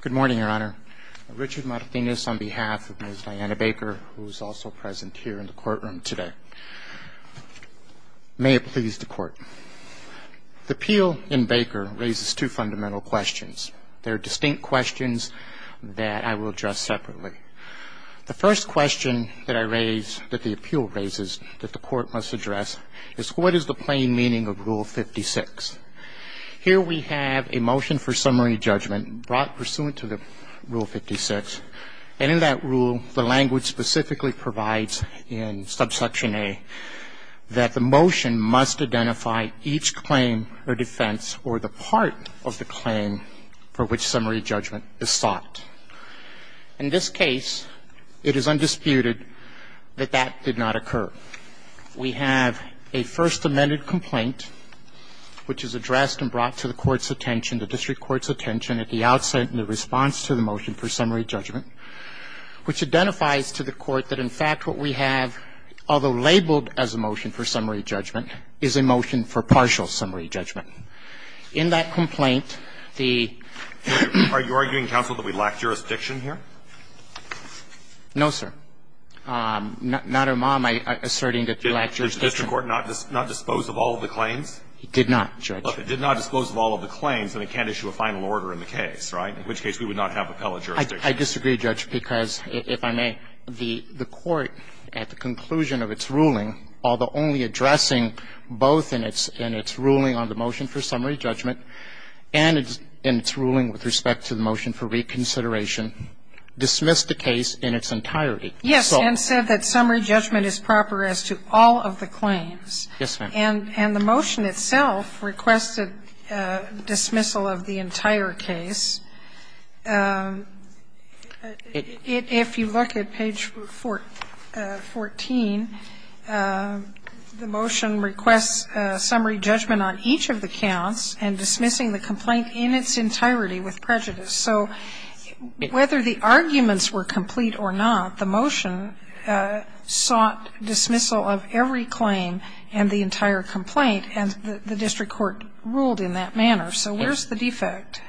Good morning, Your Honor. Richard Martinez on behalf of Ms. Diana Baker, who is also present here in the courtroom today. May it please the Court. The appeal in Baker raises two fundamental questions. They are distinct questions that I will address separately. The first question that I raise, that the appeal raises, that the Court must address, is what is the plain meaning of Rule 56? Here we have a motion for summary judgment brought pursuant to the Rule 56. And in that rule, the language specifically provides in subsection A that the motion must identify each claim or defense or the part of the claim for which summary judgment is sought. In this case, it is undisputed that that did not occur. We have a First Amendment complaint which is addressed and brought to the Court's attention, the district court's attention, at the outset in the response to the motion for summary judgment, which identifies to the Court that in fact what we have, although labeled as a motion for summary judgment, is a motion for partial summary judgment. In that complaint, the ---- Are you arguing, counsel, that we lack jurisdiction here? No, sir. Not, Irma, am I asserting that you lack jurisdiction? Did the district court not dispose of all of the claims? It did not, Judge. It did not dispose of all of the claims, and it can't issue a final order in the case, right, in which case we would not have appellate jurisdiction. I disagree, Judge, because, if I may, the Court, at the conclusion of its ruling, although only addressing both in its ruling on the motion for summary judgment and its ruling with respect to the motion for reconsideration, dismissed the case in its entirety. Yes, and said that summary judgment is proper as to all of the claims. Yes, ma'am. And the motion itself requested dismissal of the entire case. If you look at page 14, the motion requests summary judgment on each of the counts and dismissing the complaint in its entirety with prejudice. So whether the arguments were complete or not, the motion sought dismissal of every claim and the entire complaint, and the district court ruled in that manner. So where's the defect?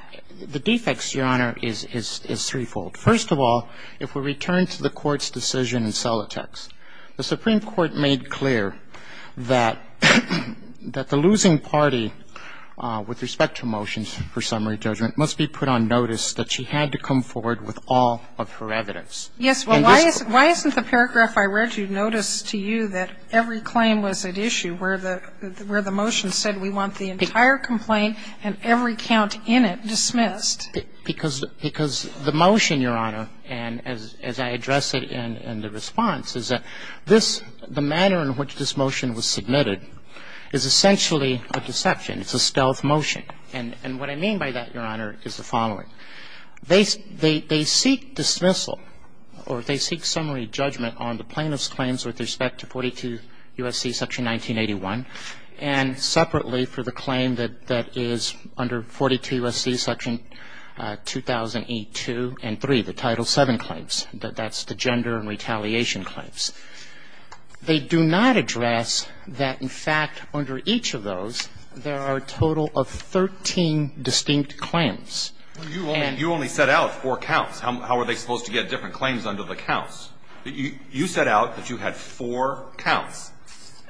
The defect, Your Honor, is threefold. First of all, if we return to the Court's decision in Solitex, the Supreme Court made clear that the losing party with respect to motions for summary judgment must be put on notice that she had to come forward with all of her evidence. Yes, but why isn't the paragraph I read you notice to you that every claim was at issue, where the motion said we want the entire complaint and every count in it dismissed? Because the motion, Your Honor, and as I address it in the response, is that this the manner in which this motion was submitted is essentially a deception. It's a stealth motion. And what I mean by that, Your Honor, is the following. They seek dismissal or they seek summary judgment on the plaintiff's claims with respect to 42 U.S.C. section 1981 and separately for the claim that is under 42 U.S.C. section 2008-2 and 3, the Title VII claims. That's the gender and retaliation claims. They do not address that, in fact, under each of those, there are a total of 13 distinct claims. And you only set out four counts. How are they supposed to get different claims under the counts? You set out that you had four counts.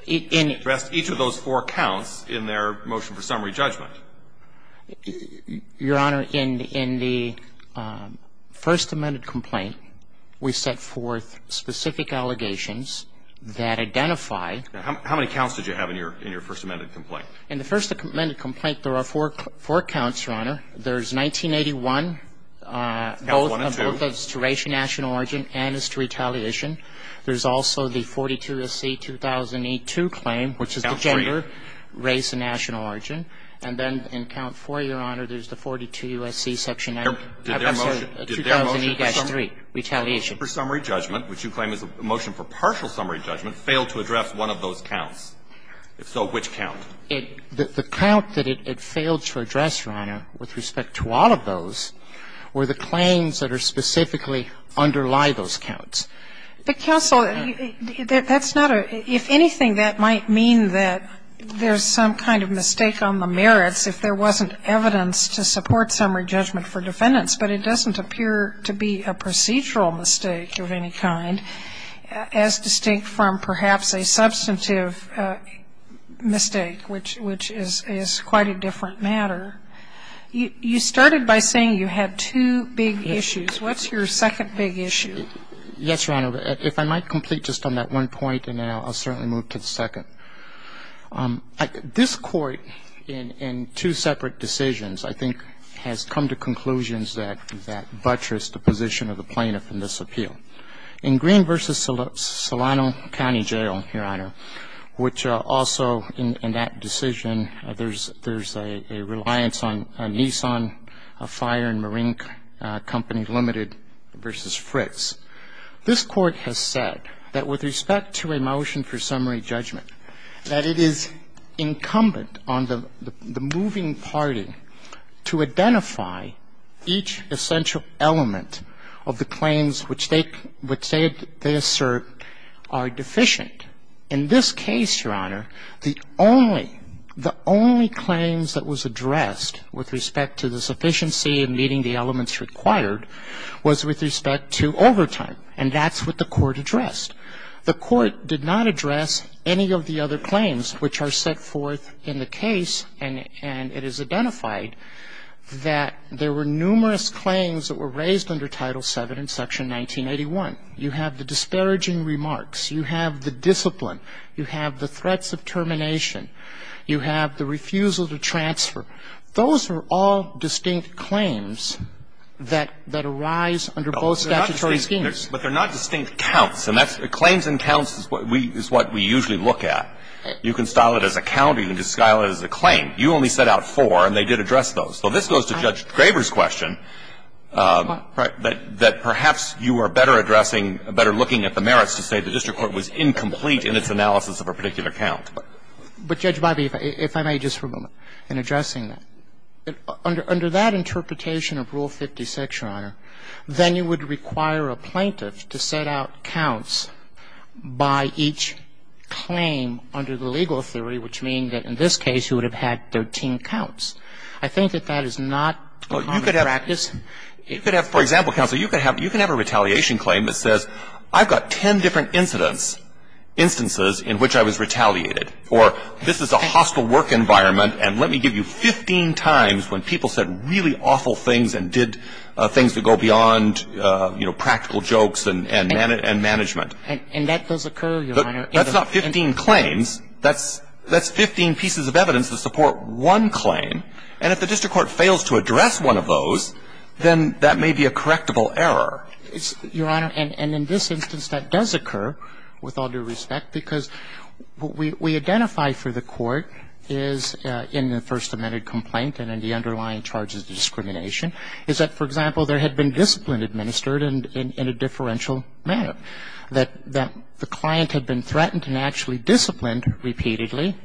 You addressed each of those four counts in their motion for summary judgment. Your Honor, in the First Amendment complaint, we set forth specific allegations that identify. Now, how many counts did you have in your First Amendment complaint? In the First Amendment complaint, there are four counts, Your Honor. There's 1981. Counts 1 and 2. Both of those to race and national origin and is to retaliation. There's also the 42 U.S.C. 2000e-2 claim, which is the gender, race and national origin. And then in count 4, Your Honor, there's the 42 U.S.C. section 2000e-3, retaliation. The motion for summary judgment, which you claim is a motion for partial summary judgment, failed to address one of those counts. If so, which count? The count that it failed to address, Your Honor, with respect to all of those, were the claims that are specifically underlie those counts. But, counsel, that's not a – if anything, that might mean that there's some kind of mistake on the merits if there wasn't evidence to support summary judgment for defendants. But it doesn't appear to be a procedural mistake of any kind, as distinct from perhaps a substantive mistake, which is quite a different matter. You started by saying you had two big issues. What's your second big issue? Yes, Your Honor. If I might complete just on that one point, and then I'll certainly move to the second. This Court, in two separate decisions, I think has come to conclusions that buttress the position of the plaintiff in this appeal. In Green v. Solano County Jail, Your Honor, which also in that decision, there's a reliance on a Nissan Fire and Marine Company Limited v. Fritz, this Court has said that with respect to a motion for summary judgment, that it is incumbent on the moving party to identify each essential element of the claims which they assert are deficient. In this case, Your Honor, the only – the only claims that was addressed with respect to the sufficiency in meeting the elements required was with respect to overtime. And that's what the Court addressed. The Court did not address any of the other claims which are set forth in the case, and it is identified that there were numerous claims that were raised under Title VII in Section 1981. You have the disparaging remarks. You have the discipline. You have the threats of termination. You have the refusal to transfer. Those are all distinct claims that arise under both statutory schemes. But they're not distinct counts. And that's – claims and counts is what we usually look at. You can style it as a count or you can just style it as a claim. You only set out four, and they did address those. So this goes to Judge Graber's question, that perhaps you are better addressing – better looking at the merits to say the district court was incomplete in its analysis of a particular count. But, Judge Bobby, if I may just for a moment, in addressing that, under that interpretation of Rule 56, Your Honor, then you would require a plaintiff to set out counts by each claim under the legal theory, which means that in this case you would have had 13 counts. I think that that is not common practice. You could have – for example, counsel, you could have a retaliation claim that says, I've got ten different incidents, instances in which I was retaliated. Or this is a hostile work environment, and let me give you 15 times when people said really awful things and did things that go beyond, you know, practical jokes and management. And that does occur, Your Honor. That's not 15 claims. That's 15 pieces of evidence to support one claim. And if the district court fails to address one of those, then that may be a correctable error. Your Honor, and in this instance that does occur, with all due respect, because what we identify for the court is in the First Amendment complaint and in the underlying charges of discrimination is that, for example, there had been discipline administered in a differential manner, that the client had been threatened and actually disciplined repeatedly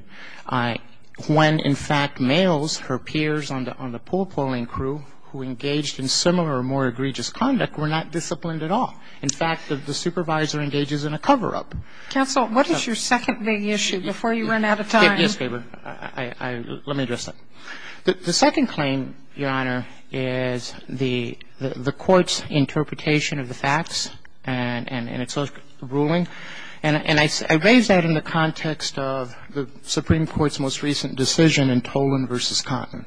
when, in fact, males, her peers on the pool-pulling crew, who engaged in similar or more egregious conduct, were not disciplined at all. In fact, the supervisor engages in a cover-up. Counsel, what is your second big issue before you run out of time? Yes, Gabor. Let me address that. The second claim, Your Honor, is the court's interpretation of the facts and its ruling. And I raise that in the context of the Supreme Court's most recent decision in Tolan v. Cotton.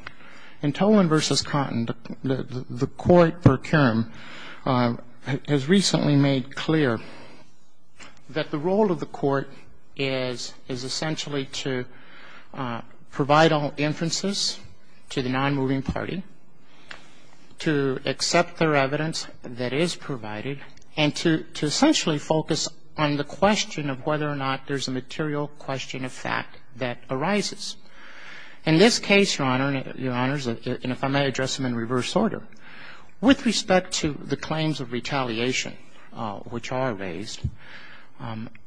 In Tolan v. Cotton, the court per curum has recently made clear that the role of the court is essentially to provide all inferences to the nonmoving party, to accept their evidence that is provided, and to essentially focus on the question of whether or not there's a material question of fact that arises. In this case, Your Honor, and if I may address them in reverse order, with respect to the claims of retaliation which are raised,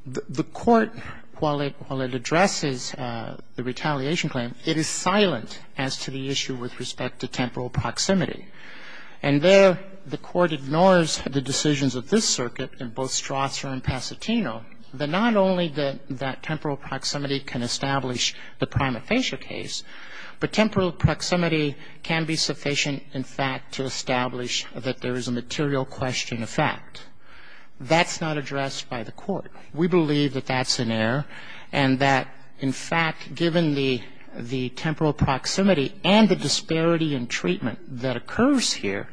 the court, while it addresses the retaliation claim, it is silent as to the issue with respect to temporal proximity. And there, the court ignores the decisions of this circuit in both Strasser and Pacitino, that not only that temporal proximity can establish the prima facie case, but temporal proximity can be sufficient, in fact, to establish that there is a material question of fact. That's not addressed by the court. We believe that that's an error and that, in fact, given the temporal proximity and the disparity in treatment that occurs here,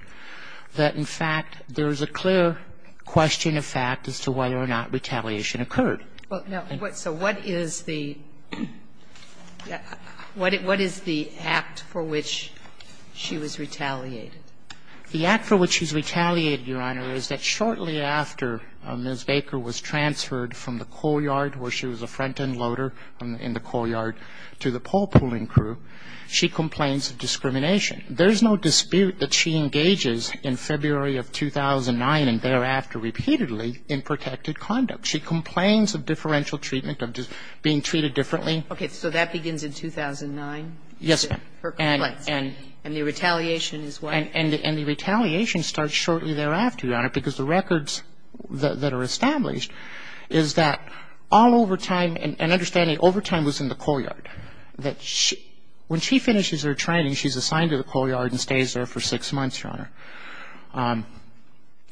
that, in fact, there is a clear question of fact as to whether or not retaliation occurred. Well, now, so what is the act for which she was retaliated? The act for which she was retaliated, Your Honor, is that shortly after Ms. Baker was transferred from the courtyard where she was a front-end loader in the courtyard to the pole-pulling crew, she complains of discrimination. There's no dispute that she engages in February of 2009 and thereafter repeatedly in protected conduct. She complains of differential treatment, of being treated differently. Okay. So that begins in 2009? Yes, ma'am. And the retaliation is what? And the retaliation starts shortly thereafter, Your Honor, because the records that are established is that all over time, and understanding over time was in the courtyard and stays there for six months, Your Honor.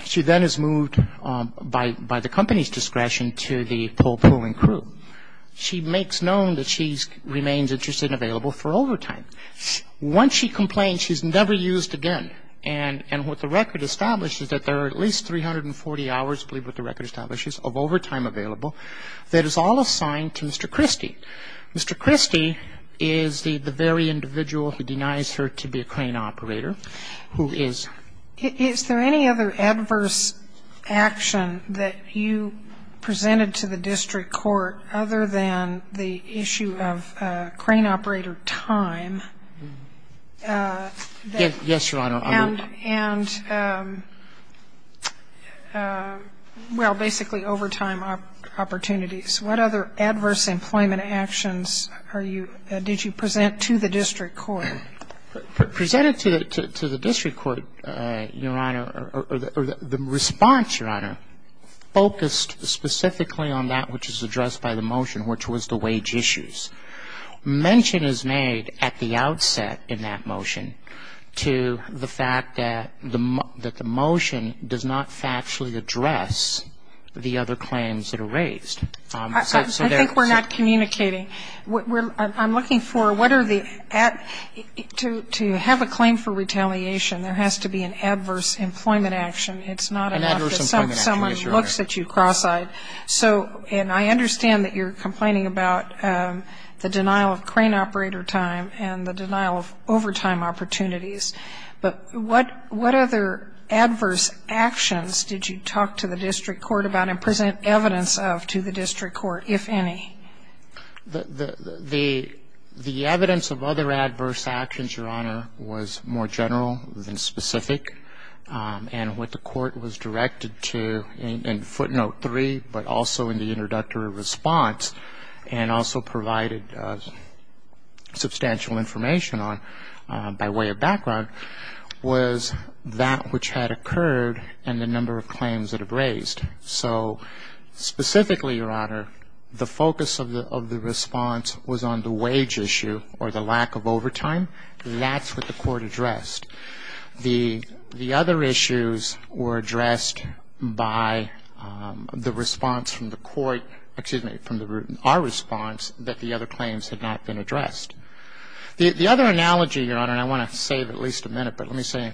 She then is moved by the company's discretion to the pole-pulling crew. She makes known that she remains interested and available for over time. Once she complains, she's never used again. And what the record establishes is that there are at least 340 hours, I believe what the record establishes, of over time available that is all assigned to Mr. Christie. Mr. Christie is the very individual who denies her to be a crane operator, who is ---- Is there any other adverse action that you presented to the district court other than the issue of crane operator time? Yes, Your Honor. And, well, basically overtime opportunities. What other adverse employment actions are you ---- did you present to the district court? Presented to the district court, Your Honor, or the response, Your Honor, focused specifically on that which is addressed by the motion, which was the wage issues. Mention is made at the outset in that motion to the fact that the motion does not factually address the other claims that are raised. I think we're not communicating. I'm looking for what are the ---- to have a claim for retaliation, there has to be an adverse employment action. It's not enough that someone looks at you cross-eyed. So, and I understand that you're complaining about the denial of crane operator time and the denial of overtime opportunities. But what other adverse actions did you talk to the district court about and present evidence of to the district court, if any? The evidence of other adverse actions, Your Honor, was more general than specific. And what the court was directed to in footnote three, but also in the introductory response, and also provided substantial information on by way of background, was that which had occurred and the number of claims that have raised. So specifically, Your Honor, the focus of the response was on the wage issue or the lack of overtime. That's what the court addressed. The other issues were addressed by the response from the court ---- excuse me, from our response that the other claims had not been addressed. The other analogy, Your Honor, and I want to save at least a minute, but let me say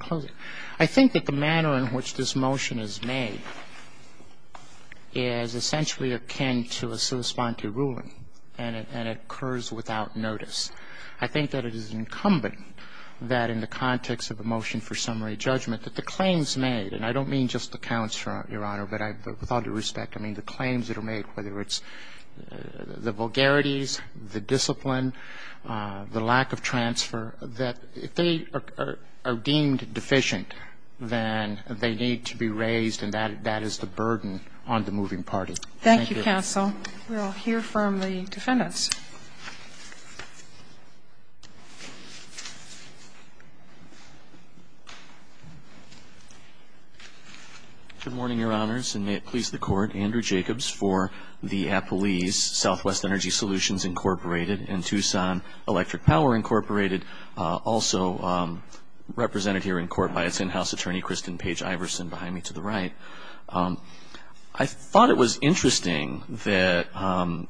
I think that the manner in which this motion is made is essentially akin to a sui sponte ruling, and it occurs without notice. I think that it is incumbent that in the context of a motion for summary judgment that the claims made, and I don't mean just the counts, Your Honor, but with all due respect, I mean the claims that are made, whether it's the vulgarities, the discipline, the lack of transfer, that if they are deemed deficient, then they need to be raised, and that is the burden on the moving party. Thank you. Thank you, counsel. We will hear from the defendants. Good morning, Your Honors, and may it please the Court. I am Andrew Jacobs for the Appalese Southwest Energy Solutions, Incorporated, and Tucson Electric Power, Incorporated, also represented here in court by its in-house attorney, Kristen Page-Iverson, behind me to the right. I thought it was interesting that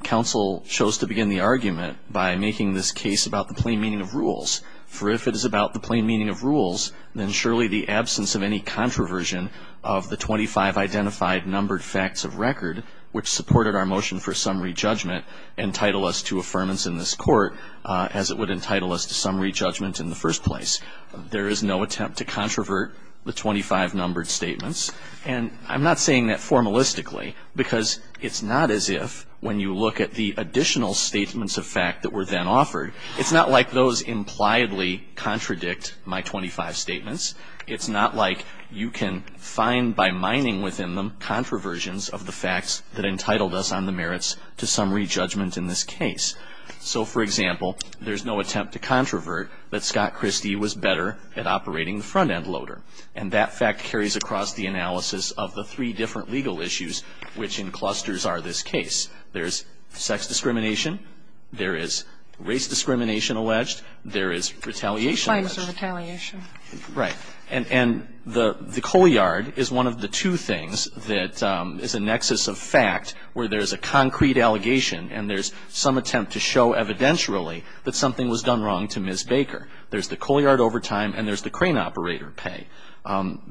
counsel chose to begin the argument by making this case about the plain meaning of rules, for if it is about the plain meaning of rules, then surely the absence of any controversion of the 25 identified numbered facts of record, which supported our motion for summary judgment, entitle us to affirmance in this court, as it would entitle us to summary judgment in the first place. There is no attempt to controvert the 25 numbered statements, and I'm not saying that formalistically, because it's not as if, when you look at the additional statements of fact that were then offered, it's not like those impliedly contradict my 25 statements. It's not like you can find, by mining within them, controversions of the facts that entitled us on the merits to summary judgment in this case. So, for example, there's no attempt to controvert that Scott Christie was better at operating the front-end loader. And that fact carries across the analysis of the three different legal issues which in clusters are this case. There's sex discrimination. There is race discrimination alleged. There is retaliation alleged. There's all kinds of retaliation. Right. And the coalyard is one of the two things that is a nexus of fact where there's a concrete allegation and there's some attempt to show evidentially that something was done wrong to Ms. Baker. There's the coalyard overtime and there's the crane operator pay.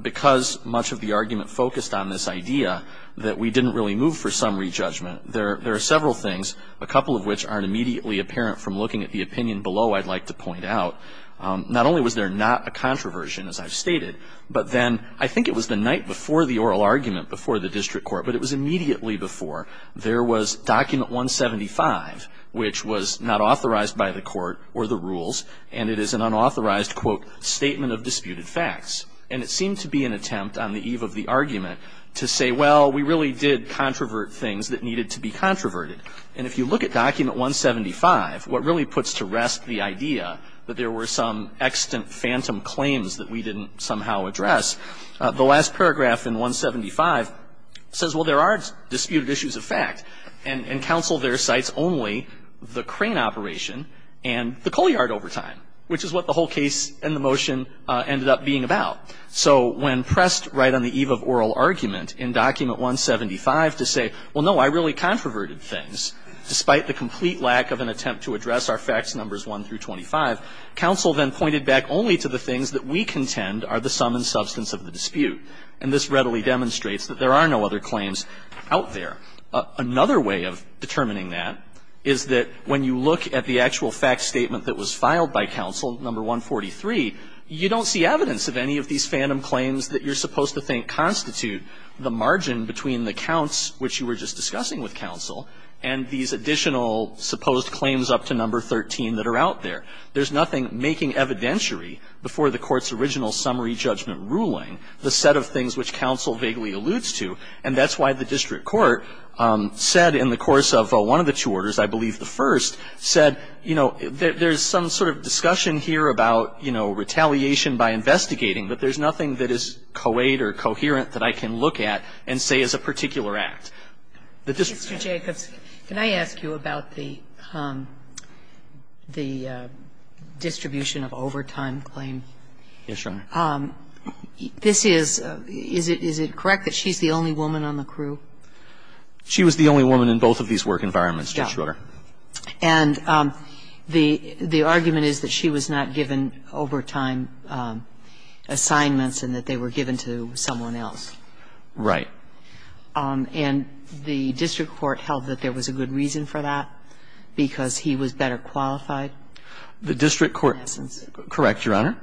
Because much of the argument focused on this idea that we didn't really move for summary judgment, there are several things, a couple of which aren't immediately apparent from looking at the opinion below I'd like to point out. Not only was there not a controversion, as I've stated, but then I think it was the night before the oral argument before the district court, but it was immediately before, there was document 175 which was not authorized by the court or the rules and it is an unauthorized, quote, statement of disputed facts. And it seemed to be an attempt on the eve of the argument to say, well, we really did controvert things that needed to be controverted. And if you look at document 175, what really puts to rest the idea that there were some extant phantom claims that we didn't somehow address, the last paragraph in 175 says, well, there are disputed issues of fact. And counsel there cites only the crane operation and the coalyard overtime, which is what the whole case and the motion ended up being about. So when pressed right on the eve of oral argument in document 175 to say, well, no, I really controverted things, despite the complete lack of an attempt to address our facts, numbers 1 through 25, counsel then pointed back only to the things that we contend are the sum and substance of the dispute. And this readily demonstrates that there are no other claims out there. Another way of determining that is that when you look at the actual fact statement that was filed by counsel, number 143, you don't see evidence of any of these phantom claims that you're supposed to think constitute the margin between the counts which you were just discussing with counsel and these additional supposed claims up to number 13 that are out there. There's nothing making evidentiary before the Court's original summary judgment ruling the set of things which counsel vaguely alludes to. And that's why the district court said in the course of one of the two orders, I believe the first, said, you know, there's some sort of discussion here about, you know, retaliation by investigating, but there's nothing that is coed or coherent that I can look at and say is a particular act. The district court said that. Kagan. Kagan. Can I ask you about the distribution of overtime claim? Yes, Your Honor. This is – is it correct that she's the only woman on the crew? She was the only woman in both of these work environments, Judge Brewer. And the argument is that she was not given overtime assignments and that they were given to someone else. Right. And the district court held that there was a good reason for that because he was better qualified? The district court – correct, Your Honor.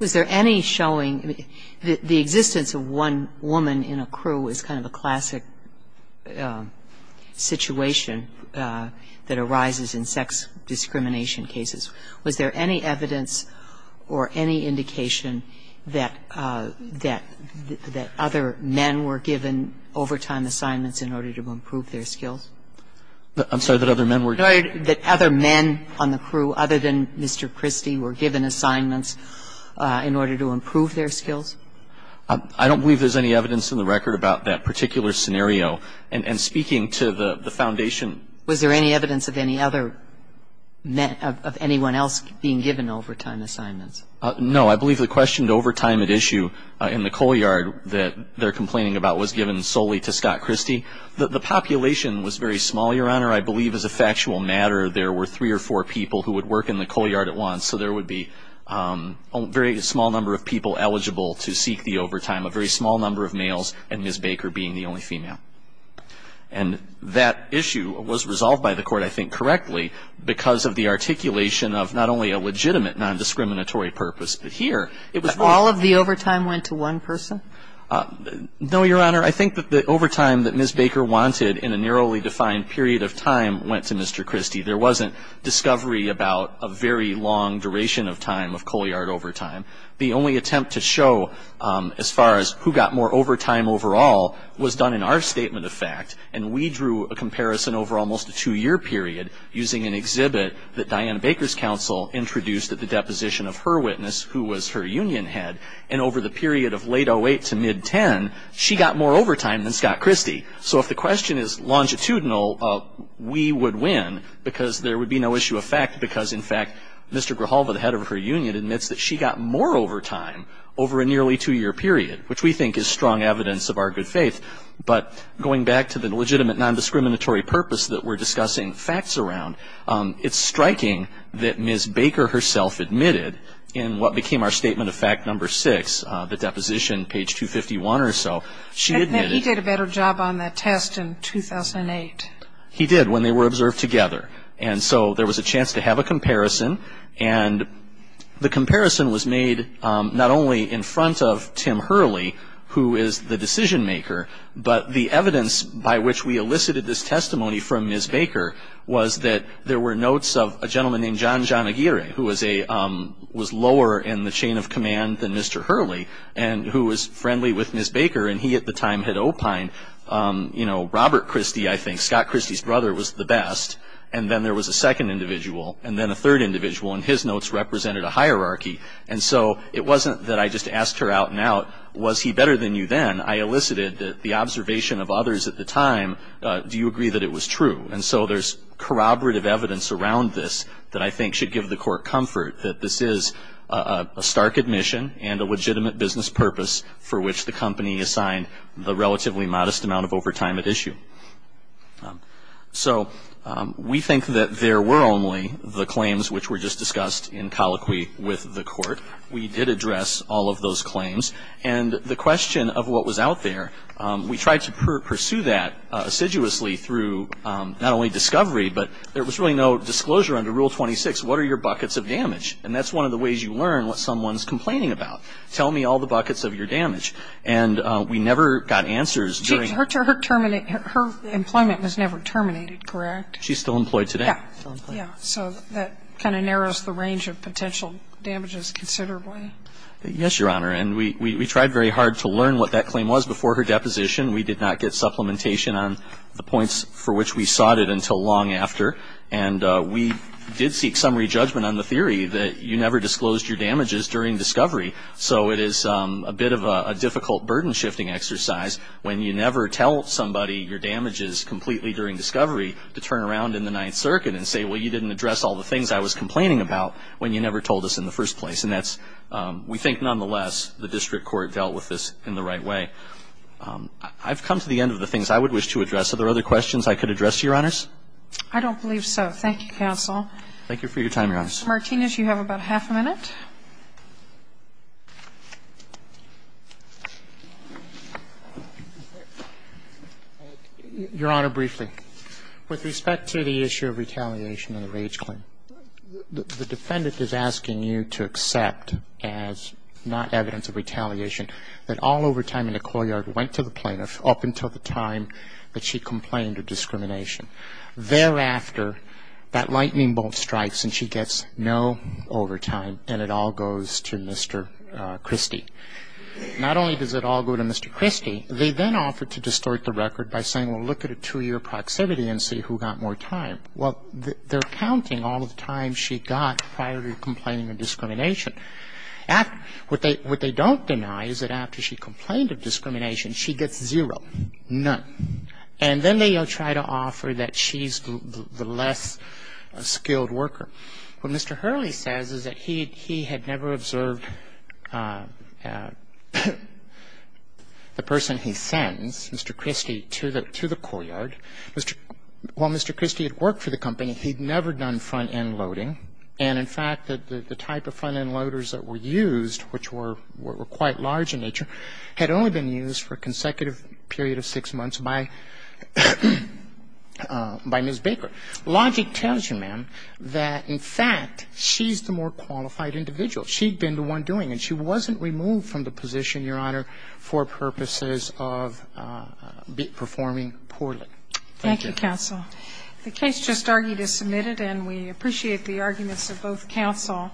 Was there any showing – the existence of one woman in a crew is kind of a classic situation that arises in sex discrimination cases. Was there any evidence or any indication that other men were given overtime assignments in order to improve their skills? I'm sorry, that other men were? That other men on the crew, other than Mr. Christie, were given assignments in order to improve their skills? I don't believe there's any evidence in the record about that particular scenario. And speaking to the foundation. Was there any evidence of any other – of anyone else being given overtime assignments? No. I believe the question to overtime at issue in the co-yard that they're complaining about was given solely to Scott Christie. The population was very small, Your Honor. I believe as a factual matter, there were three or four people who would work in the co-yard at once. So there would be a very small number of people eligible to seek the overtime, a very small number of males and Ms. Baker being the only female. And that issue was resolved by the court, I think, correctly because of the articulation of not only a legitimate nondiscriminatory purpose, but here it was – All of the overtime went to one person? No, Your Honor. I think that the overtime that Ms. Baker wanted in a narrowly defined period of time went to Mr. Christie. There wasn't discovery about a very long duration of time of co-yard overtime. The only attempt to show as far as who got more overtime overall was done in our statement of fact. And we drew a comparison over almost a two-year period using an exhibit that Diana Baker's counsel introduced at the deposition of her witness, who was her union head. And over the period of late 08 to mid-10, she got more overtime than Scott Christie. So if the question is longitudinal, we would win because there would be no issue of fact because, in fact, Mr. Grijalva, the head of her union, admits that she got more overtime over a nearly two-year period, which we think is strong evidence of our good faith. But going back to the legitimate nondiscriminatory purpose that we're discussing facts around, it's striking that Ms. Baker herself admitted in what became our statement of fact number six, the deposition, page 251 or so, she admitted... And then he did a better job on that test in 2008. He did, when they were observed together. And so there was a chance to have a comparison. And the comparison was made not only in front of Tim Hurley, who is the decision-maker, but the evidence by which we elicited this testimony from Ms. Baker was that there were notes of a gentleman named John John Aguirre, who was lower in the chain of command than Mr. Hurley, and who was friendly with Ms. Baker. And he, at the time, had opined Robert Christie, I think. Scott Christie's brother was the best. And then there was a second individual, and then a third individual. And his notes represented a hierarchy. And so it wasn't that I just asked her out and out, was he better than you then? I elicited that the observation of others at the time, do you agree that it was true? And so there's corroborative evidence around this that I think should give the court comfort, that this is a stark admission and a legitimate business purpose for which the company assigned the relatively modest amount of overtime at issue. So we think that there were only the claims which were just discussed in colloquy with the court. We did address all of those claims. And the question of what was out there, we tried to pursue that assiduously through not only discovery, but there was really no disclosure under Rule 26, what are your buckets of damage? And that's one of the ways you learn what someone's complaining about. Tell me all the buckets of your damage. And we never got answers during the year. Her employment was never terminated, correct? She's still employed today. Yeah. So that kind of narrows the range of potential damages considerably. Yes, Your Honor. And we tried very hard to learn what that claim was before her deposition. We did not get supplementation on the points for which we sought it until long after. And we did seek summary judgment on the theory that you never disclosed your damages during discovery. So it is a bit of a difficult burden-shifting exercise when you never tell somebody your damages completely during discovery to turn around in the Ninth Circuit and say, well, you didn't address all the things I was complaining about when you never told us in the first place. And that's, we think nonetheless, the district court dealt with this in the right way. I've come to the end of the things I would wish to address. Are there other questions I could address, Your Honors? I don't believe so. Thank you, counsel. Thank you for your time, Your Honors. Martinez, you have about half a minute. Your Honor, briefly. With respect to the issue of retaliation of the rage claim, the defendant is asking you to accept as not evidence of retaliation that all overtime in the courtyard went to the plaintiff up until the time that she complained of discrimination. Thereafter, that lightning bolt strikes and she gets no overtime, and it all goes to Mr. Christie. Not only does it all go to Mr. Christie, they then offer to distort the record by saying, well, look at a two-year proximity and see who got more time. Well, they're counting all the time she got prior to complaining of discrimination. What they don't deny is that after she complained of discrimination, she gets zero, none. And then they try to offer that she's the less skilled worker. What Mr. Hurley says is that he had never observed the person he sends, Mr. Christie, to the courtyard. While Mr. Christie had worked for the company, he'd never done front-end loading. And, in fact, the type of front-end loaders that were used, which were quite large in nature, had only been used for a consecutive period of six months by Ms. Baker. Logic tells you, ma'am, that, in fact, she's the more qualified individual. She'd been the one doing it. She wasn't removed from the position, Your Honor, for purposes of performing poorly. Thank you. Thank you, counsel. The case just argued is submitted, and we appreciate the arguments of both counsel.